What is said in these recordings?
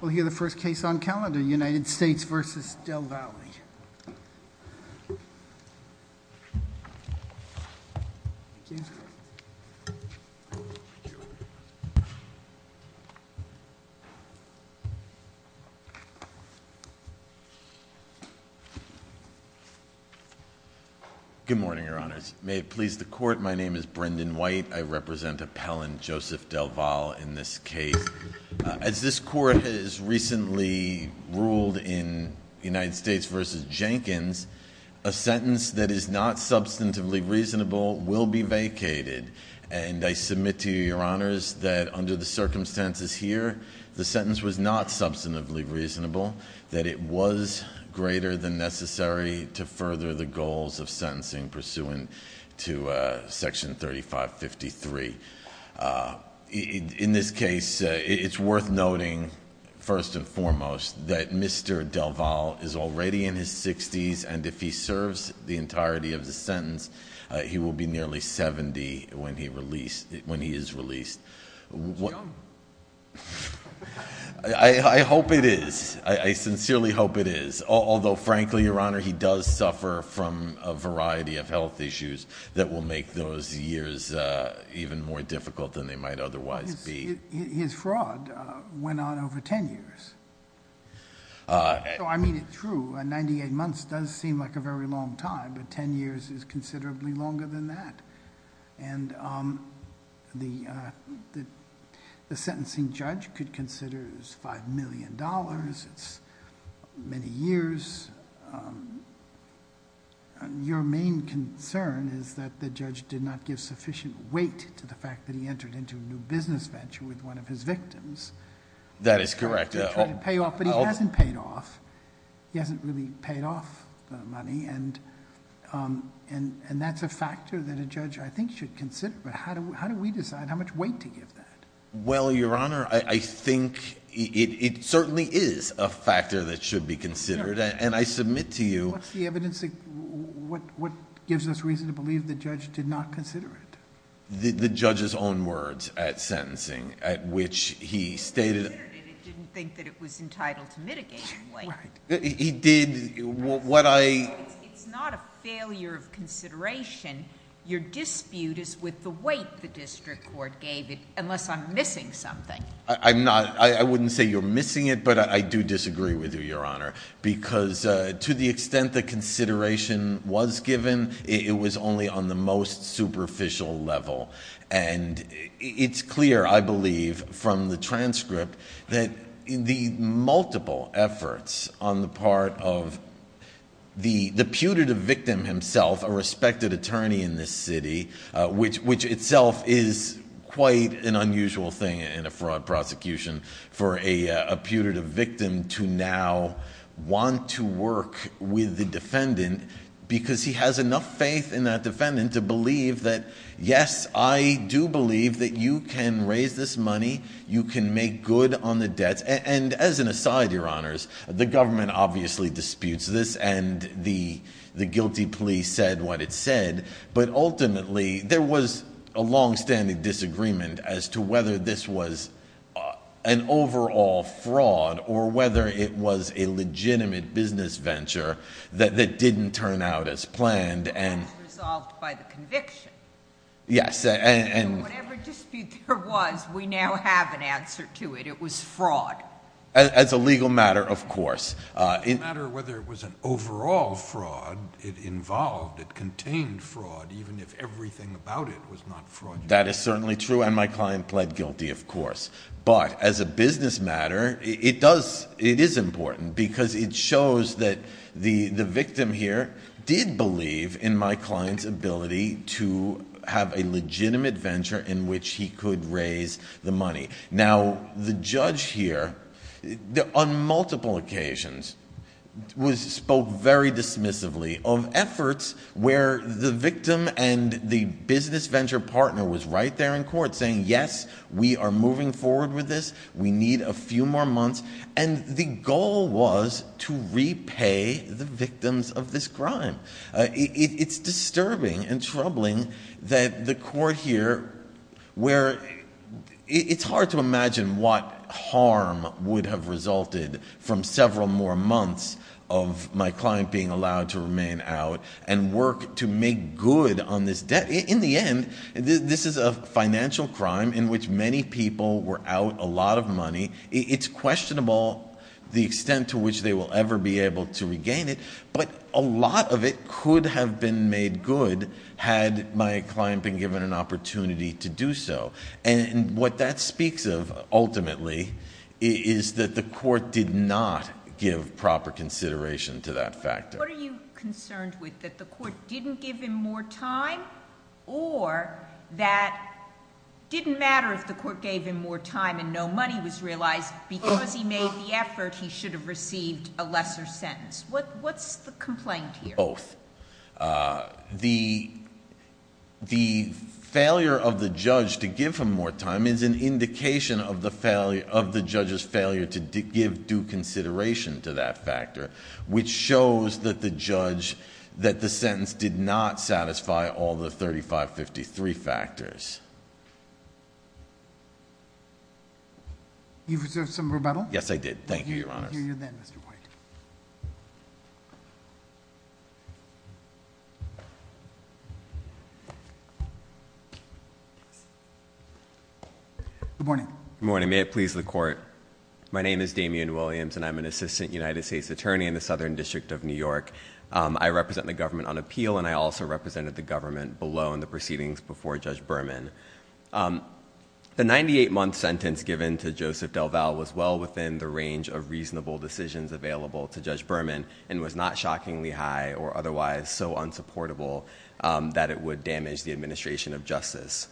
We'll hear the first case on calendar, United States v. Del Valle. Good morning, Your Honors. May it please the Court, my name is Brendan White. I represent Appellant Joseph Del Valle in this case. As this Court has recently ruled in United States v. Jenkins, a sentence that is not substantively reasonable will be vacated. And I submit to you, Your Honors, that under the circumstances here, the sentence was not substantively reasonable, that it was greater than necessary to further the goals of sentencing pursuant to Section 3553. In this case, it's worth noting, first and foremost, that Mr. Del Valle is already in his 60s, and if he serves the entirety of the sentence, he will be nearly 70 when he is released. He's young. I hope it is. I sincerely hope it is. Although, frankly, Your Honor, he does suffer from a variety of health issues that will make those years even more difficult than they might otherwise be. His fraud went on over ten years. I mean it true. Ninety-eight months does seem like a very long time, but ten years is considerably longer than that. And the sentencing judge could consider it as $5 million. It's many years. Your main concern is that the judge did not give sufficient weight to the fact that he entered into a new business venture with one of his victims. That is correct. But he hasn't paid off. He hasn't really paid off the money, and that's a factor that a judge, I think, should consider. But how do we decide how much weight to give that? Well, Your Honor, I think it certainly is a factor that should be considered, and I submit to you— What's the evidence that gives us reason to believe the judge did not consider it? The judge's own words at sentencing, at which he stated— He considered it and didn't think that it was entitled to mitigation weight. Right. He did what I— It's not a failure of consideration. Your dispute is with the weight the district court gave it, unless I'm missing something. I'm not—I wouldn't say you're missing it, but I do disagree with you, Your Honor, because to the extent the consideration was given, it was only on the most superficial level. And it's clear, I believe, from the transcript, that the multiple efforts on the part of the putative victim himself, a respected attorney in this city, which itself is quite an unusual thing in a fraud prosecution for a putative victim to now want to work with the defendant because he has enough faith in that defendant to believe that, yes, I do believe that you can raise this money. You can make good on the debts. And as an aside, Your Honors, the government obviously disputes this, and the guilty plea said what it said, but ultimately there was a longstanding disagreement as to whether this was an overall fraud or whether it was a legitimate business venture that didn't turn out as planned. It was resolved by the conviction. Yes, and— Whatever dispute there was, we now have an answer to it. It was fraud. As a legal matter, of course. As a matter of whether it was an overall fraud, it involved, it contained fraud, even if everything about it was not fraudulent. That is certainly true, and my client pled guilty, of course. But as a business matter, it is important because it shows that the victim here did believe in my client's ability to have a legitimate venture in which he could raise the money. Now, the judge here, on multiple occasions, spoke very dismissively of efforts where the victim and the business venture partner was right there in court saying, yes, we are moving forward with this. We need a few more months. And the goal was to repay the victims of this crime. It's disturbing and troubling that the court here, where it's hard to imagine what harm would have resulted from several more months of my client being allowed to remain out and work to make good on this debt. In the end, this is a financial crime in which many people were out a lot of money. It's questionable the extent to which they will ever be able to regain it, but a lot of it could have been made good had my client been given an opportunity to do so. And what that speaks of, ultimately, is that the court did not give proper consideration to that factor. What are you concerned with, that the court didn't give him more time or that it didn't matter if the court gave him more time and no money was realized, because he made the effort, he should have received a lesser sentence? What's the complaint here? Both. The failure of the judge to give him more time is an indication of the judge's failure to give due consideration to that factor, which shows that the sentence did not satisfy all the 3553 factors. You've observed some rebuttal? Yes, I did. Thank you, Your Honor. We'll hear you then, Mr. White. Good morning. Good morning. May it please the Court. My name is Damian Williams, and I'm an assistant United States attorney in the Southern District of New York. I represent the government on appeal, and I also represented the government below in the proceedings before Judge Berman. The 98-month sentence given to Joseph DelVal was well within the range of reasonable decisions available to Judge Berman and was not shockingly high or otherwise so unsupportable that it would damage the administration of justice.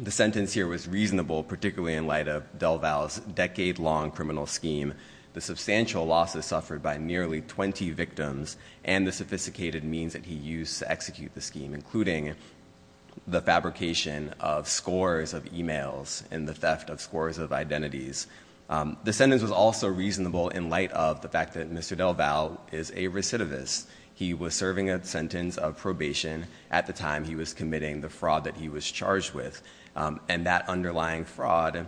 The sentence here was reasonable, particularly in light of DelVal's decade-long criminal scheme, the substantial losses suffered by nearly 20 victims and the sophisticated means that he used to execute the scheme, including the fabrication of scores of e-mails and the theft of scores of identities. The sentence was also reasonable in light of the fact that Mr. DelVal is a recidivist. He was serving a sentence of probation at the time he was committing the fraud that he was charged with, and that underlying fraud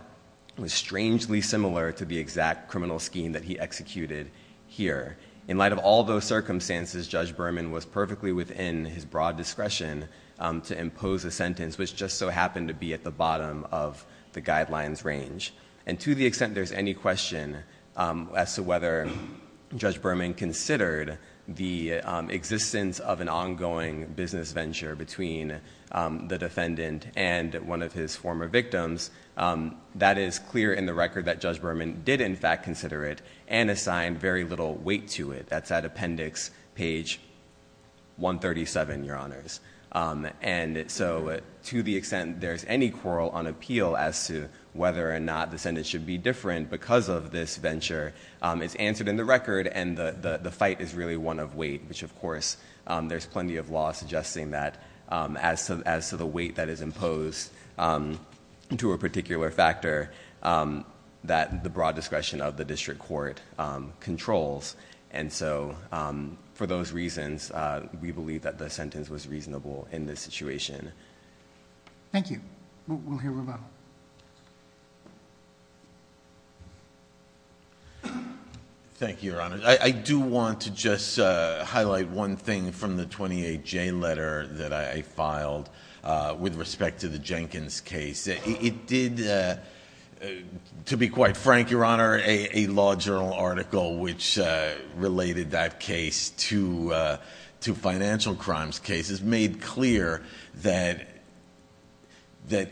was strangely similar to the exact criminal scheme that he executed here. In light of all those circumstances, Judge Berman was perfectly within his broad discretion to impose a sentence, which just so happened to be at the bottom of the guidelines range. And to the extent there's any question as to whether Judge Berman considered the existence of an ongoing business venture between the defendant and one of his former victims, that is clear in the record that Judge Berman did in fact consider it and assigned very little weight to it. That's at appendix page 137, Your Honors. And so to the extent there's any quarrel on appeal as to whether or not the sentence should be different because of this venture, it's answered in the record, and the fight is really one of weight, which, of course, there's plenty of law suggesting that as to the weight that is imposed to a particular factor that the broad discretion of the district court controls. And so for those reasons, we believe that the sentence was reasonable in this situation. Thank you. We'll hear Revelle. Thank you, Your Honor. I do want to just highlight one thing from the 28J letter that I filed with respect to the Jenkins case. It did, to be quite frank, Your Honor, a Law Journal article which related that case made clear that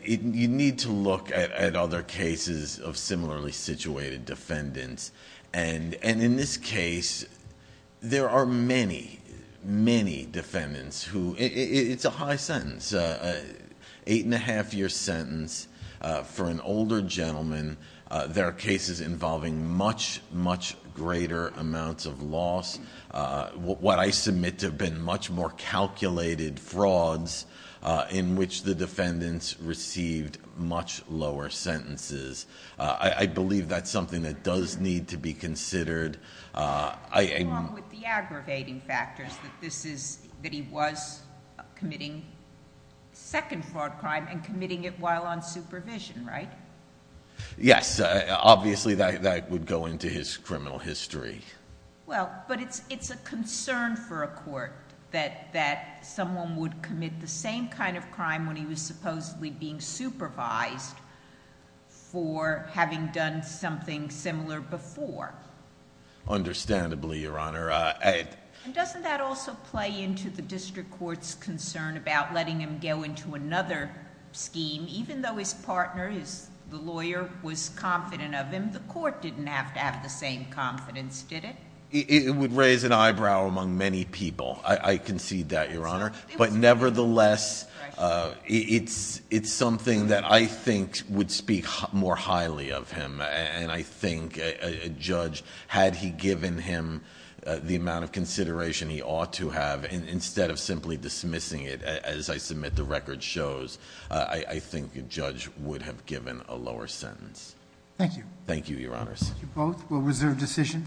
you need to look at the case and you need to look at other cases of similarly situated defendants. And in this case, there are many, many defendants who... It's a high sentence, an eight-and-a-half-year sentence for an older gentleman. There are cases involving much, much greater amounts of loss. What I submit to have been much more calculated frauds in which the defendants received much lower sentences. I believe that's something that does need to be considered. Along with the aggravating factors that this is... that he was committing second fraud crime and committing it while on supervision, right? Yes. Obviously, that would go into his criminal history. Well, but it's a concern for a court that someone would commit the same kind of crime when he was supposedly being supervised for having done something similar before. Understandably, Your Honor. And doesn't that also play into the district court's concern about letting him go into another scheme? Even though his partner, the lawyer, was confident of him, the court didn't have to have the same confidence, did it? It would raise an eyebrow among many people. I concede that, Your Honor. But nevertheless, it's something that I think would speak more highly of him. And I think a judge, had he given him the amount of consideration he ought to have instead of simply dismissing it, as I submit the record shows, I think a judge would have given a lower sentence. Thank you. Thank you, Your Honors. Thank you both. We'll reserve decision.